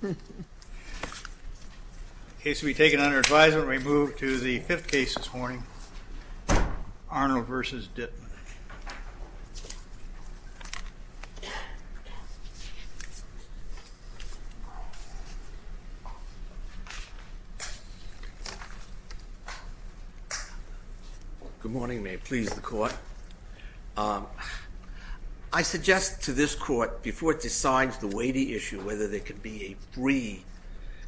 The case will be taken under advisement and we move to the fifth case this morning, Arnold v. Dittmann. Good morning, may it please the court. I suggest to this court, before it decides the weighty issue, whether there can be a free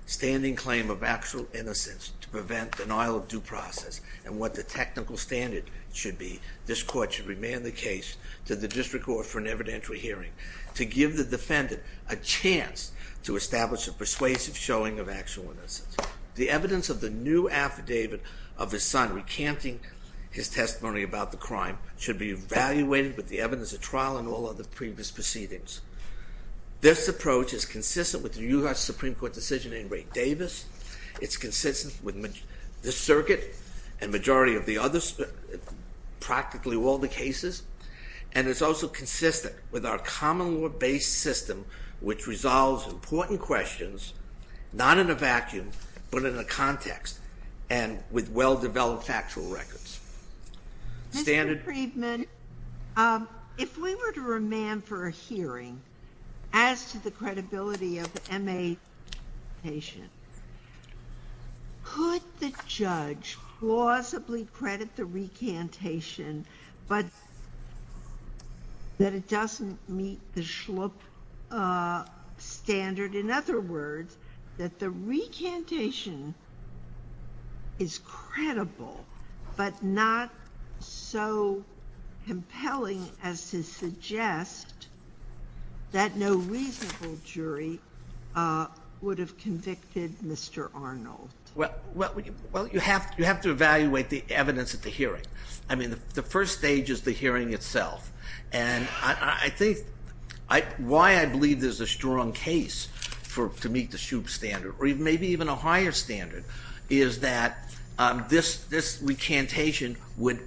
standing claim of actual innocence to prevent denial of due process and what the technical standard should be, this court should remember that this is a court of law. We demand the case to the district court for an evidentiary hearing to give the defendant a chance to establish a persuasive showing of actual innocence. The evidence of the new affidavit of his son recanting his testimony about the crime should be evaluated with the evidence of trial and all other previous proceedings. This approach is consistent with the U.S. Supreme Court decision in Ray Davis. It's consistent with the circuit and majority of the others, practically all the cases. And it's also consistent with our common law based system, which resolves important questions, not in a vacuum, but in a context and with well-developed factual records. Mr. Kriegman, if we were to remand for a hearing, as to the credibility of the M.A. patient, could the judge plausibly credit the recantation, but that it doesn't meet the schlup standard? In other words, that the recantation is credible, but not so compelling as to suggest that no reasonable jury would have convicted Mr. Arnold. Well, you have to evaluate the evidence at the hearing. I mean, the first stage is the hearing itself. And I think why I believe there's a strong case to meet the schlup standard, or maybe even a higher standard, is that this recantation would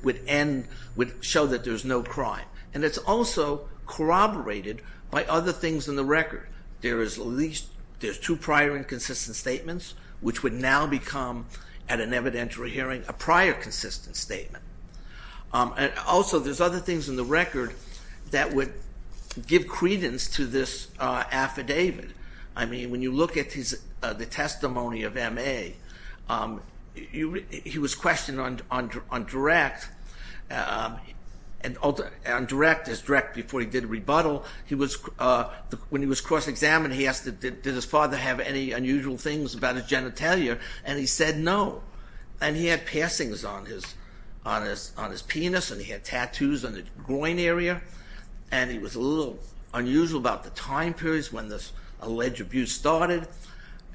show that there's no crime. And it's also corroborated by other things in the record. There's two prior inconsistent statements, which would now become, at an evidentiary hearing, a prior consistent statement. Also, there's other things in the record that would give credence to this affidavit. I mean, when you look at the testimony of M.A., he was questioned on direct before he did a rebuttal. When he was cross-examined, he asked, did his father have any unusual things about his genitalia? And he said no. And he had passings on his penis, and he had tattoos on his groin area, and he was a little unusual about the time periods when this alleged abuse started.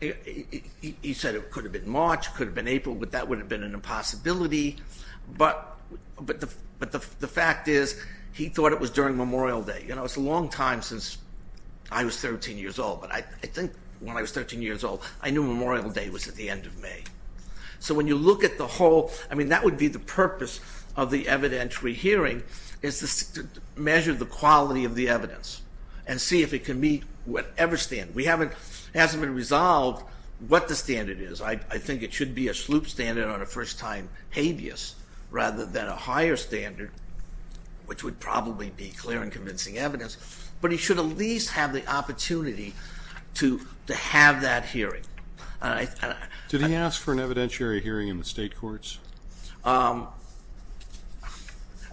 He said it could have been March, it could have been April, but that would have been an impossibility. But the fact is, he thought it was during Memorial Day. You know, it's a long time since I was 13 years old, but I think when I was 13 years old, I knew Memorial Day was at the end of May. So when you look at the whole, I mean, that would be the purpose of the evidentiary hearing, is to measure the quality of the evidence and see if it can meet whatever standard. We haven't, it hasn't been resolved what the standard is. I think it should be a sloop standard on a first-time habeas rather than a higher standard, which would probably be clear and convincing evidence. But he should at least have the opportunity to have that hearing. Did he ask for an evidentiary hearing in the state courts?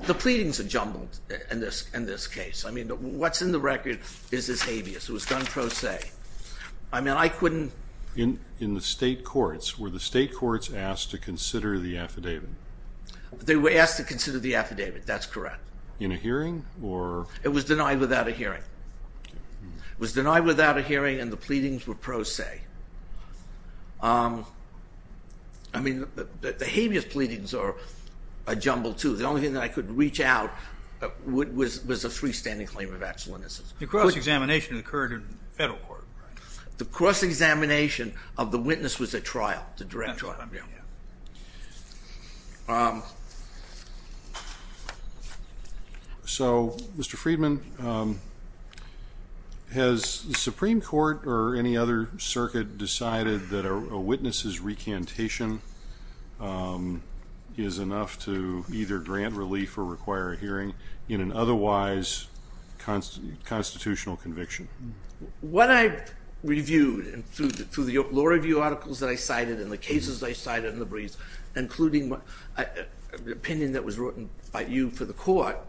The pleadings are jumbled in this case. I mean, what's in the record is his habeas. It was done pro se. I mean, I couldn't... In the state courts, were the state courts asked to consider the affidavit? They were asked to consider the affidavit, that's correct. In a hearing, or... It was denied without a hearing. It was denied without a hearing, and the pleadings were pro se. I mean, the habeas pleadings are jumbled, too. The only thing that I could reach out was a freestanding claim of excellency. The cross-examination occurred in federal court. The cross-examination of the witness was at trial, the direct trial. So, Mr. Friedman, has the Supreme Court or any other circuit decided that a witness's recantation is enough to either grant relief or require a hearing in an otherwise constitutional conviction? What I've reviewed through the law review articles that I cited and the cases I cited in the briefs, including the opinion that was written by you for the court,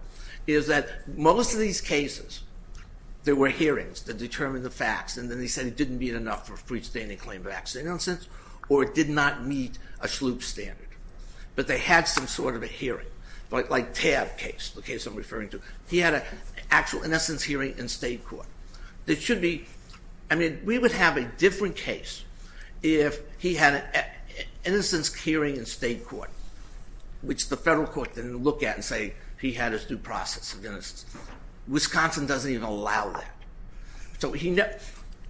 is that most of these cases, there were hearings that determined the facts, and then they said it didn't meet enough for a freestanding claim of excellence, or it did not meet a sloop standard. But they had some sort of a hearing, like Tabb case, the case I'm referring to. He had an actual innocence hearing in state court. It should be, I mean, we would have a different case if he had an innocence hearing in state court, which the federal court didn't look at and say he had his due process of innocence. Wisconsin doesn't even allow that. So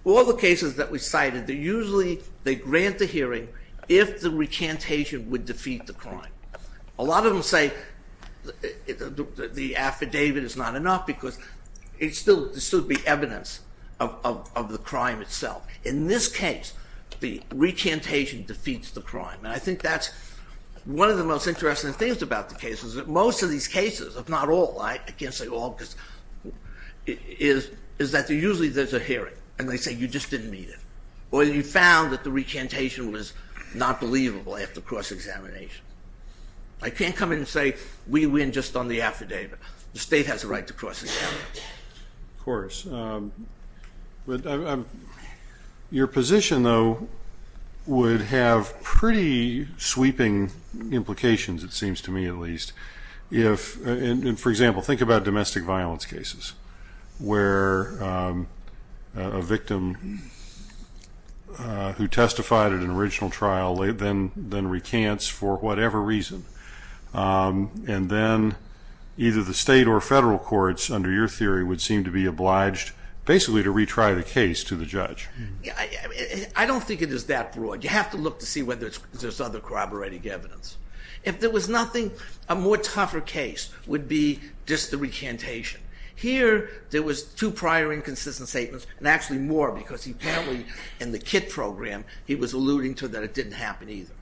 all the cases that we cited, they usually, they grant the hearing if the recantation would defeat the crime. A lot of them say the affidavit is not enough because it still should be evidence of the crime itself. In this case, the recantation defeats the crime, and I think that's one of the most interesting things about the cases, that most of these cases, if not all, I can't say all, is that usually there's a hearing, and they say you just didn't meet it, or you found that the recantation was not believable after cross-examination. I can't come in and say we win just on the affidavit. The state has a right to cross-examine. Of course. Your position, though, would have pretty sweeping implications, it seems to me at least. For example, think about domestic violence cases where a victim who testified at an original trial then recants for whatever reason, and then either the state or federal courts, under your theory, would seem to be obliged basically to retry the case to the judge. I don't think it is that broad. You have to look to see whether there's other corroborating evidence. If there was nothing, a more tougher case would be just the recantation. Here there was two prior inconsistent statements, and actually more because apparently in the KITT program he was alluding to that it didn't happen either.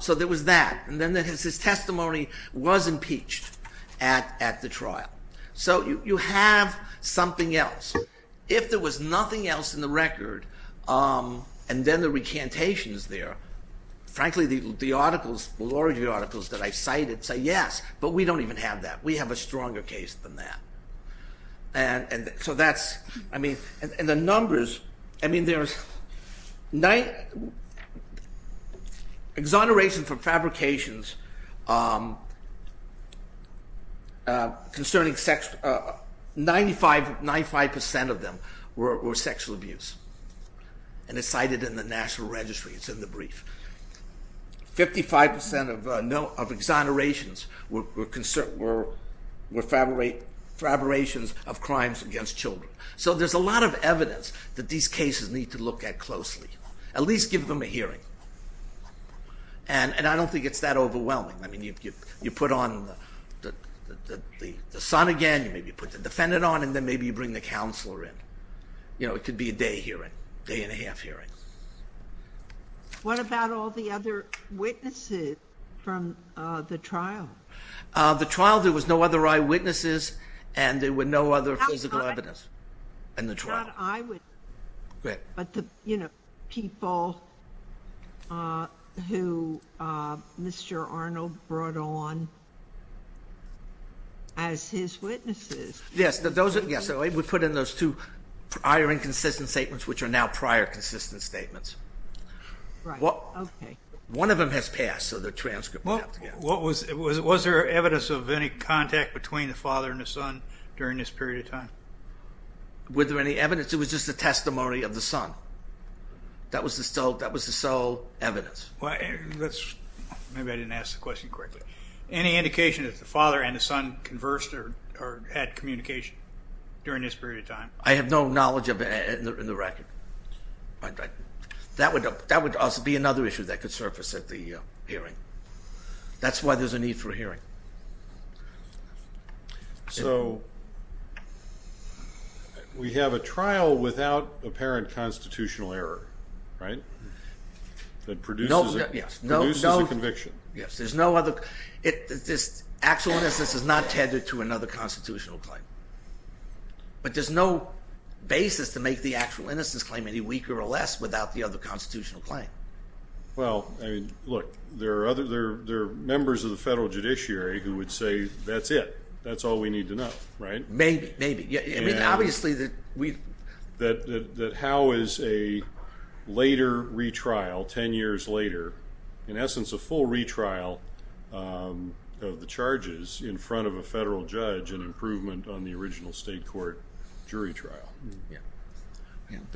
So there was that, and then his testimony was impeached at the trial. So you have something else. If there was nothing else in the record, and then the recantation is there, frankly the articles, the law review articles that I cited say yes, but we don't even have that. We have a stronger case than that. And so that's, I mean, and the numbers, I mean there's, exonerations for fabrications concerning sex, 95% of them were sexual abuse. And it's cited in the national registry, it's in the brief. 55% of exonerations were fabrications of crimes against children. So there's a lot of evidence that these cases need to look at closely. At least give them a hearing. And I don't think it's that overwhelming. I mean, you put on the son again, you maybe put the defendant on, and then maybe you bring the counselor in. You know, it could be a day hearing, day and a half hearing. What about all the other witnesses from the trial? The trial, there was no other eyewitnesses, and there were no other physical evidence in the trial. Not eyewitnesses, but the, you know, people who Mr. Arnold brought on as his witnesses. Yes, so we put in those two prior inconsistent statements, which are now prior consistent statements. Right, okay. One of them has passed, so the transcript we have to get. Was there evidence of any contact between the father and the son during this period of time? Was there any evidence? It was just a testimony of the son. That was the sole evidence. Maybe I didn't ask the question correctly. Any indication that the father and the son conversed or had communication during this period of time? I have no knowledge of it in the record. That would also be another issue that could surface at the hearing. That's why there's a need for a hearing. So we have a trial without apparent constitutional error, right? That produces a conviction. Yes, there's no other, this actual innocence is not tethered to another constitutional claim. But there's no basis to make the actual innocence claim any weaker or less without the other constitutional claim. Well, look, there are members of the federal judiciary who would say that's it, that's all we need to know, right? Maybe, maybe. That how is a later retrial, ten years later, in essence a full retrial of the charges in front of a federal judge an improvement on the original state court jury trial?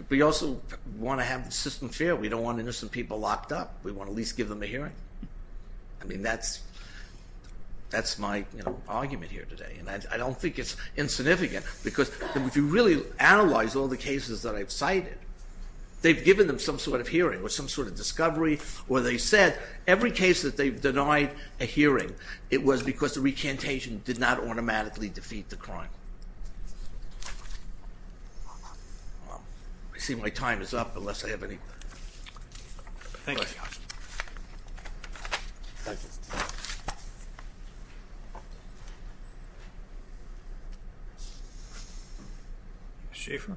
We also want to have the system fair. We don't want innocent people locked up. We want to at least give them a hearing. I mean, that's my argument here today. And I don't think it's insignificant. Because if you really analyze all the cases that I've cited, they've given them some sort of hearing or some sort of discovery where they said every case that they've denied a hearing, it was because the recantation did not automatically defeat the crime. I see my time is up unless I have any... Thank you. Ms. Schaefer.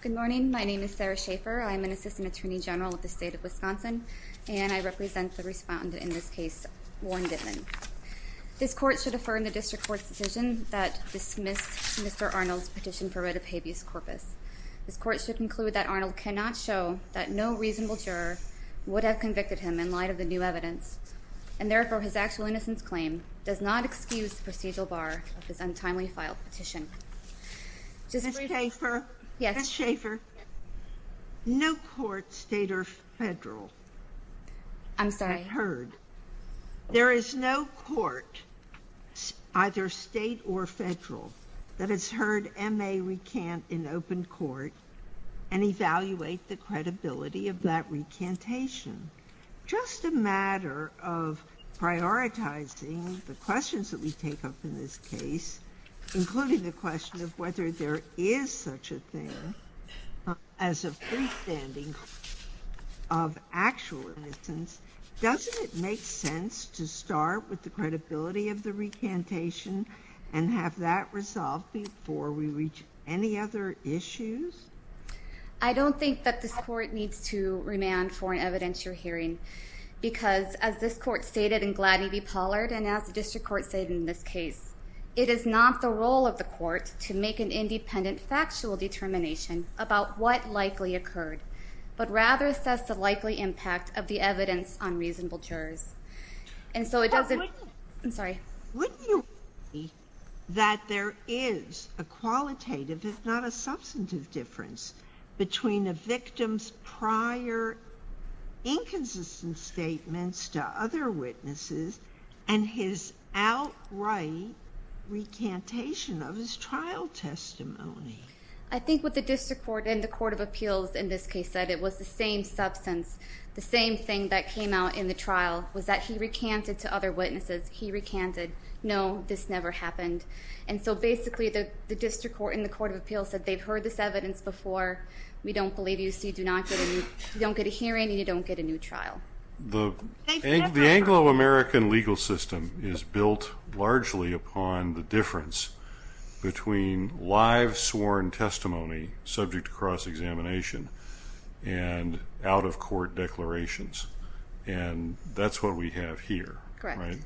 Good morning. My name is Sarah Schaefer. I'm an assistant attorney general with the state of Wisconsin, and I represent the respondent in this case, Warren Gitman. This court should affirm the district court's decision that dismissed Mr. Arnold's petition for writ of habeas corpus. This court should conclude that Arnold cannot show that no reasonable juror would have convicted him in light of the new evidence, and therefore his actual innocence claim does not excuse the procedural bar of his untimely filed petition. Ms. Schaefer. Yes. Ms. Schaefer. No court, state or federal... I'm sorry. There is no court, either state or federal, that has heard M.A. recant in open court and evaluate the credibility of that recantation. Just a matter of prioritizing the questions that we take up in this case, including the question of whether there is such a thing as a freestanding of actual innocence. Doesn't it make sense to start with the credibility of the recantation and have that resolved before we reach any other issues? I don't think that this court needs to remand for an evidentiary hearing because, as this court stated in Gladney v. Pollard and as the district court stated in this case, it is not the role of the court to make an independent factual determination about what likely occurred, but rather assess the likely impact of the evidence on reasonable jurors. And so it doesn't... I'm sorry. Wouldn't you agree that there is a qualitative, if not a substantive difference, between a victim's prior inconsistent statements to other witnesses and his outright recantation of his trial testimony? I think what the district court and the court of appeals in this case said, it was the same substance, the same thing that came out in the trial, was that he recanted to other witnesses. He recanted, no, this never happened. And so basically the district court and the court of appeals said, they've heard this evidence before, we don't believe you, so you don't get a hearing and you don't get a new trial. The Anglo-American legal system is built largely upon the difference between live sworn testimony subject to cross-examination and out-of-court declarations, and that's what we have here. Correct.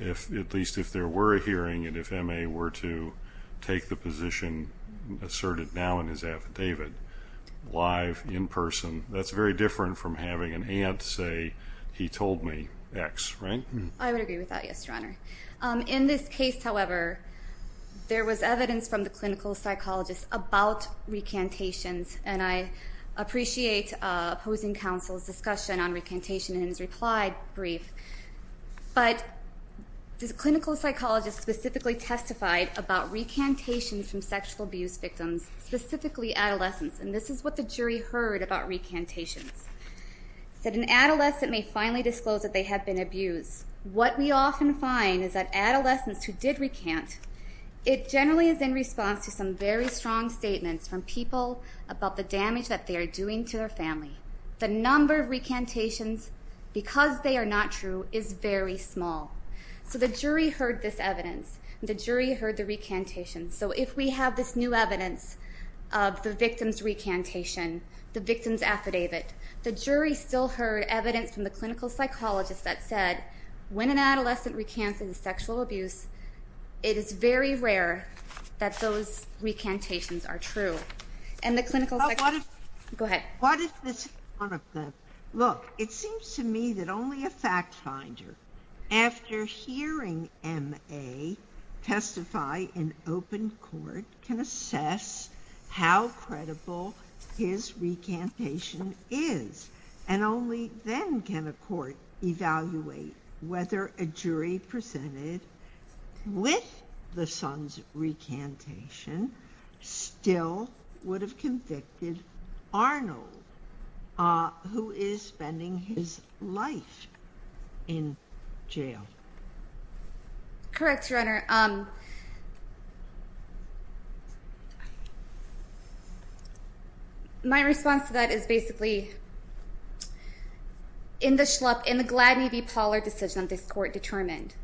At least if there were a hearing and if M.A. were to take the position asserted now in his affidavit, live, in person, that's very different from having an aunt say, he told me X, right? I would agree with that, yes, Your Honor. In this case, however, there was evidence from the clinical psychologist about recantations, and I appreciate opposing counsel's discussion on recantation in his reply brief. But the clinical psychologist specifically testified about recantations from sexual abuse victims, specifically adolescents, and this is what the jury heard about recantations, that an adolescent may finally disclose that they have been abused. What we often find is that adolescents who did recant, it generally is in response to some very strong statements from people about the damage that they are doing to their family. The number of recantations, because they are not true, is very small. So the jury heard this evidence and the jury heard the recantations. So if we have this new evidence of the victim's recantation, the victim's affidavit, the jury still heard evidence from the clinical psychologist that said when an adolescent recants in sexual abuse, it is very rare that those recantations are true. Go ahead. What if this is one of them? Look, it seems to me that only a fact finder, after hearing M.A. testify in open court, can assess how credible his recantation is, and only then can a court evaluate whether a jury presented with the son's recantation still would have convicted Arnold, who is spending his life in jail. Correct, Your Honor. My response to that is basically, in the Gladney v. Pollard decision this court determined,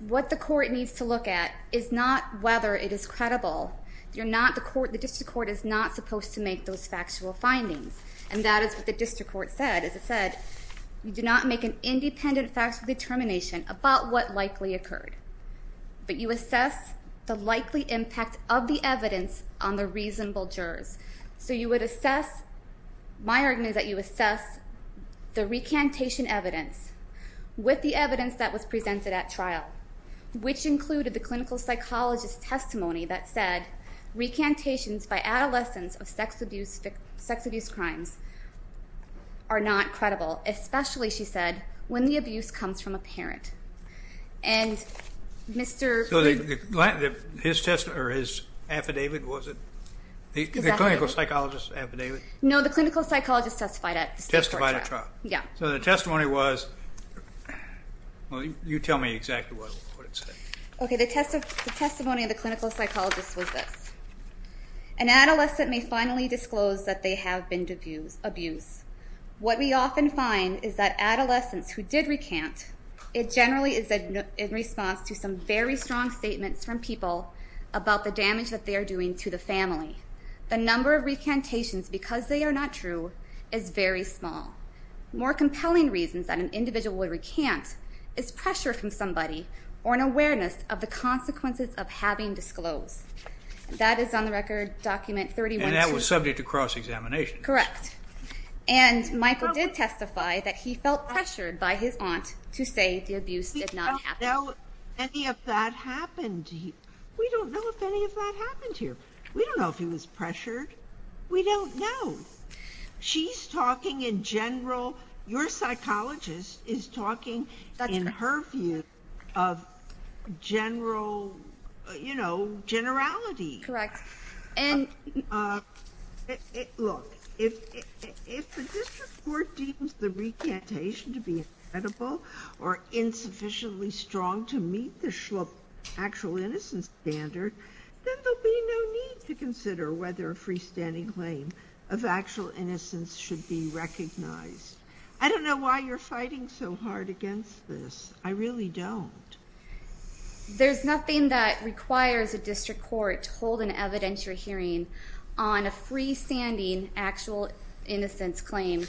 what the court needs to look at is not whether it is credible. The district court is not supposed to make those factual findings, and that is what the district court said. As it said, you do not make an independent factual determination about what likely occurred, but you assess the likely impact of the evidence on the reasonable jurors. So you would assess, my argument is that you assess the recantation evidence with the evidence that was presented at trial, which included the clinical psychologist's testimony that said, recantations by adolescents of sex abuse crimes are not credible, especially, she said, when the abuse comes from a parent. His affidavit, was it? His affidavit. The clinical psychologist's affidavit? No, the clinical psychologist testified at trial. Testified at trial. Yeah. So the testimony was, well, you tell me exactly what it said. Okay. The testimony of the clinical psychologist was this. An adolescent may finally disclose that they have been abused. What we often find is that adolescents who did recant, it generally is in response to some very strong statements from people about the damage that they are doing to the family. The number of recantations, because they are not true, is very small. More compelling reasons that an individual would recant is pressure from somebody or an awareness of the consequences of having disclosed. That is on the record document 31-2. And that was subject to cross-examination. Correct. And Michael did testify that he felt pressured by his aunt to say the abuse did not happen. We don't know if any of that happened. We don't know if any of that happened here. We don't know if he was pressured. We don't know. She's talking in general. Your psychologist is talking in her view of general, you know, generality. Correct. Look, if the district court deems the recantation to be incredible or insufficiently strong to meet the actual innocence standard, then there will be no need to consider whether a freestanding claim of actual innocence should be recognized. I don't know why you're fighting so hard against this. I really don't. There's nothing that requires a district court to hold an evidentiary hearing on a freestanding actual innocence claim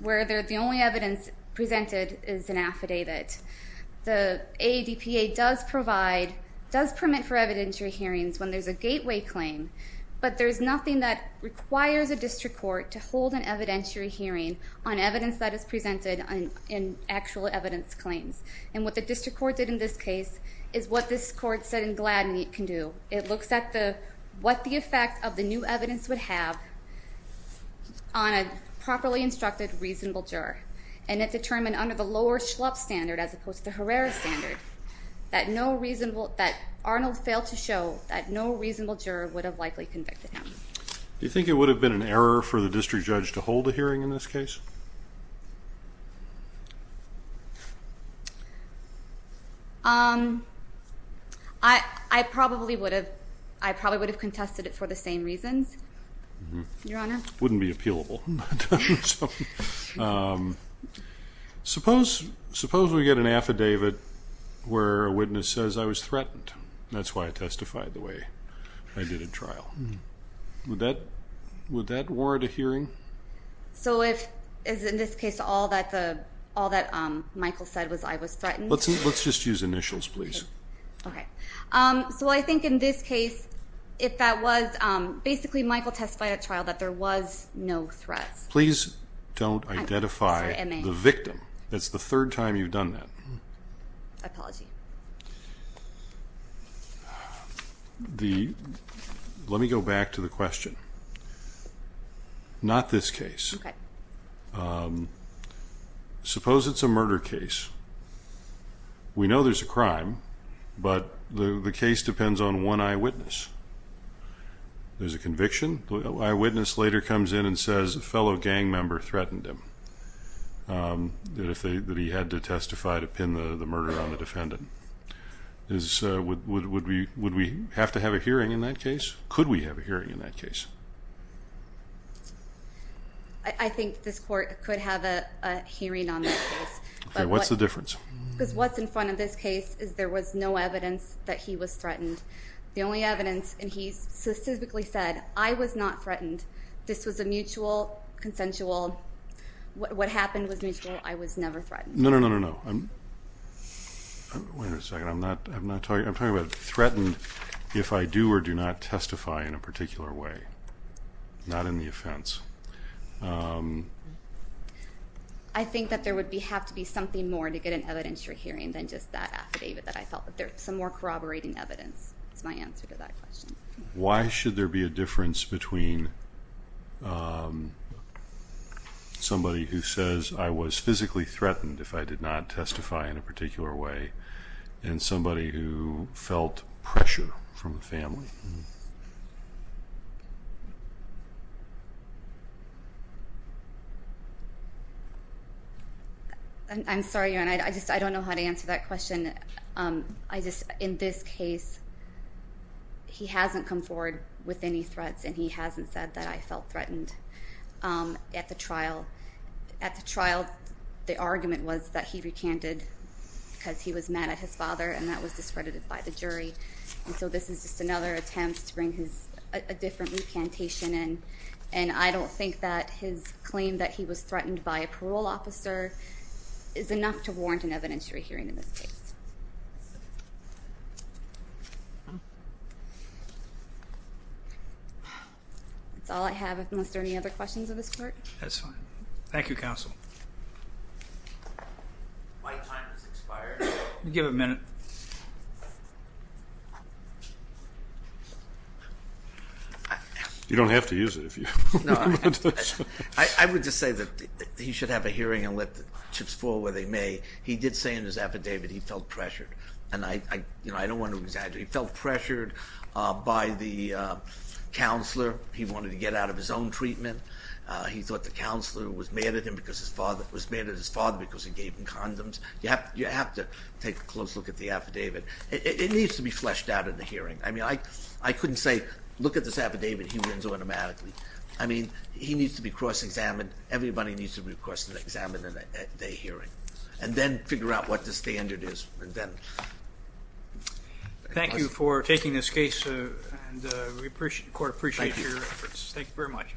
where the only evidence presented is an affidavit. The AADPA does provide, does permit for evidentiary hearings when there's a gateway claim, but there's nothing that requires a district court to hold an evidentiary hearing on evidence that is presented in actual evidence claims. And what the district court did in this case is what this court said in Gladney can do. It looks at what the effect of the new evidence would have on a properly instructed reasonable juror. And it determined under the lower Schlupp standard as opposed to Herrera standard that Arnold failed to show that no reasonable juror would have likely convicted him. Do you think it would have been an error for the district judge to hold a hearing in this case? I probably would have contested it for the same reasons, Your Honor. It wouldn't be appealable. Suppose we get an affidavit where a witness says, I was threatened. That's why I testified the way I did at trial. Would that warrant a hearing? So is it in this case all that Michael said was I was threatened? Let's just use initials, please. Okay. So I think in this case if that was basically Michael testified at trial that there was no threat. Please don't identify the victim. That's the third time you've done that. Apology. Let me go back to the question. Not this case. Okay. Suppose it's a murder case. We know there's a crime, but the case depends on one eyewitness. There's a conviction. The eyewitness later comes in and says a fellow gang member threatened him, that he had to testify to pin the murder on the defendant. Would we have to have a hearing in that case? Could we have a hearing in that case? I think this court could have a hearing on that case. What's the difference? Because what's in front of this case is there was no evidence that he was threatened. The only evidence, and he specifically said, I was not threatened. This was a mutual, consensual, what happened was mutual. I was never threatened. No, no, no, no, no. Wait a second. I'm talking about threatened if I do or do not testify in a particular way, not in the offense. I think that there would have to be something more to get an evidentiary hearing than just that affidavit that I felt that there was some more evidence than just my answer to that question. Why should there be a difference between somebody who says I was physically threatened if I did not testify in a particular way and somebody who felt pressure from the family? I'm sorry, Aaron. I just don't know how to answer that question. In this case, he hasn't come forward with any threats, and he hasn't said that I felt threatened at the trial. At the trial, the argument was that he recanted because he was mad at his father, and that was discredited by the jury. So this is just another attempt to bring a different recantation in, and I don't think that his claim that he was threatened by a parole officer is enough to warrant an evidentiary hearing in this case. That's all I have, unless there are any other questions of this court. That's fine. Thank you, Counsel. My time has expired. You have a minute. You don't have to use it if you want to. I would just say that he should have a hearing and let the chips fall where they may. He did say in his affidavit he felt pressured, and I don't want to exaggerate. He felt pressured by the counselor. He wanted to get out of his own treatment. He thought the counselor was mad at his father because he gave him condoms. You have to take a close look at the affidavit. It needs to be fleshed out in the hearing. I mean, I couldn't say look at this affidavit, he wins automatically. I mean, he needs to be cross-examined. Everybody needs to be cross-examined at a hearing and then figure out what the standard is. Thank you for taking this case. The court appreciates your efforts. Thank you very much.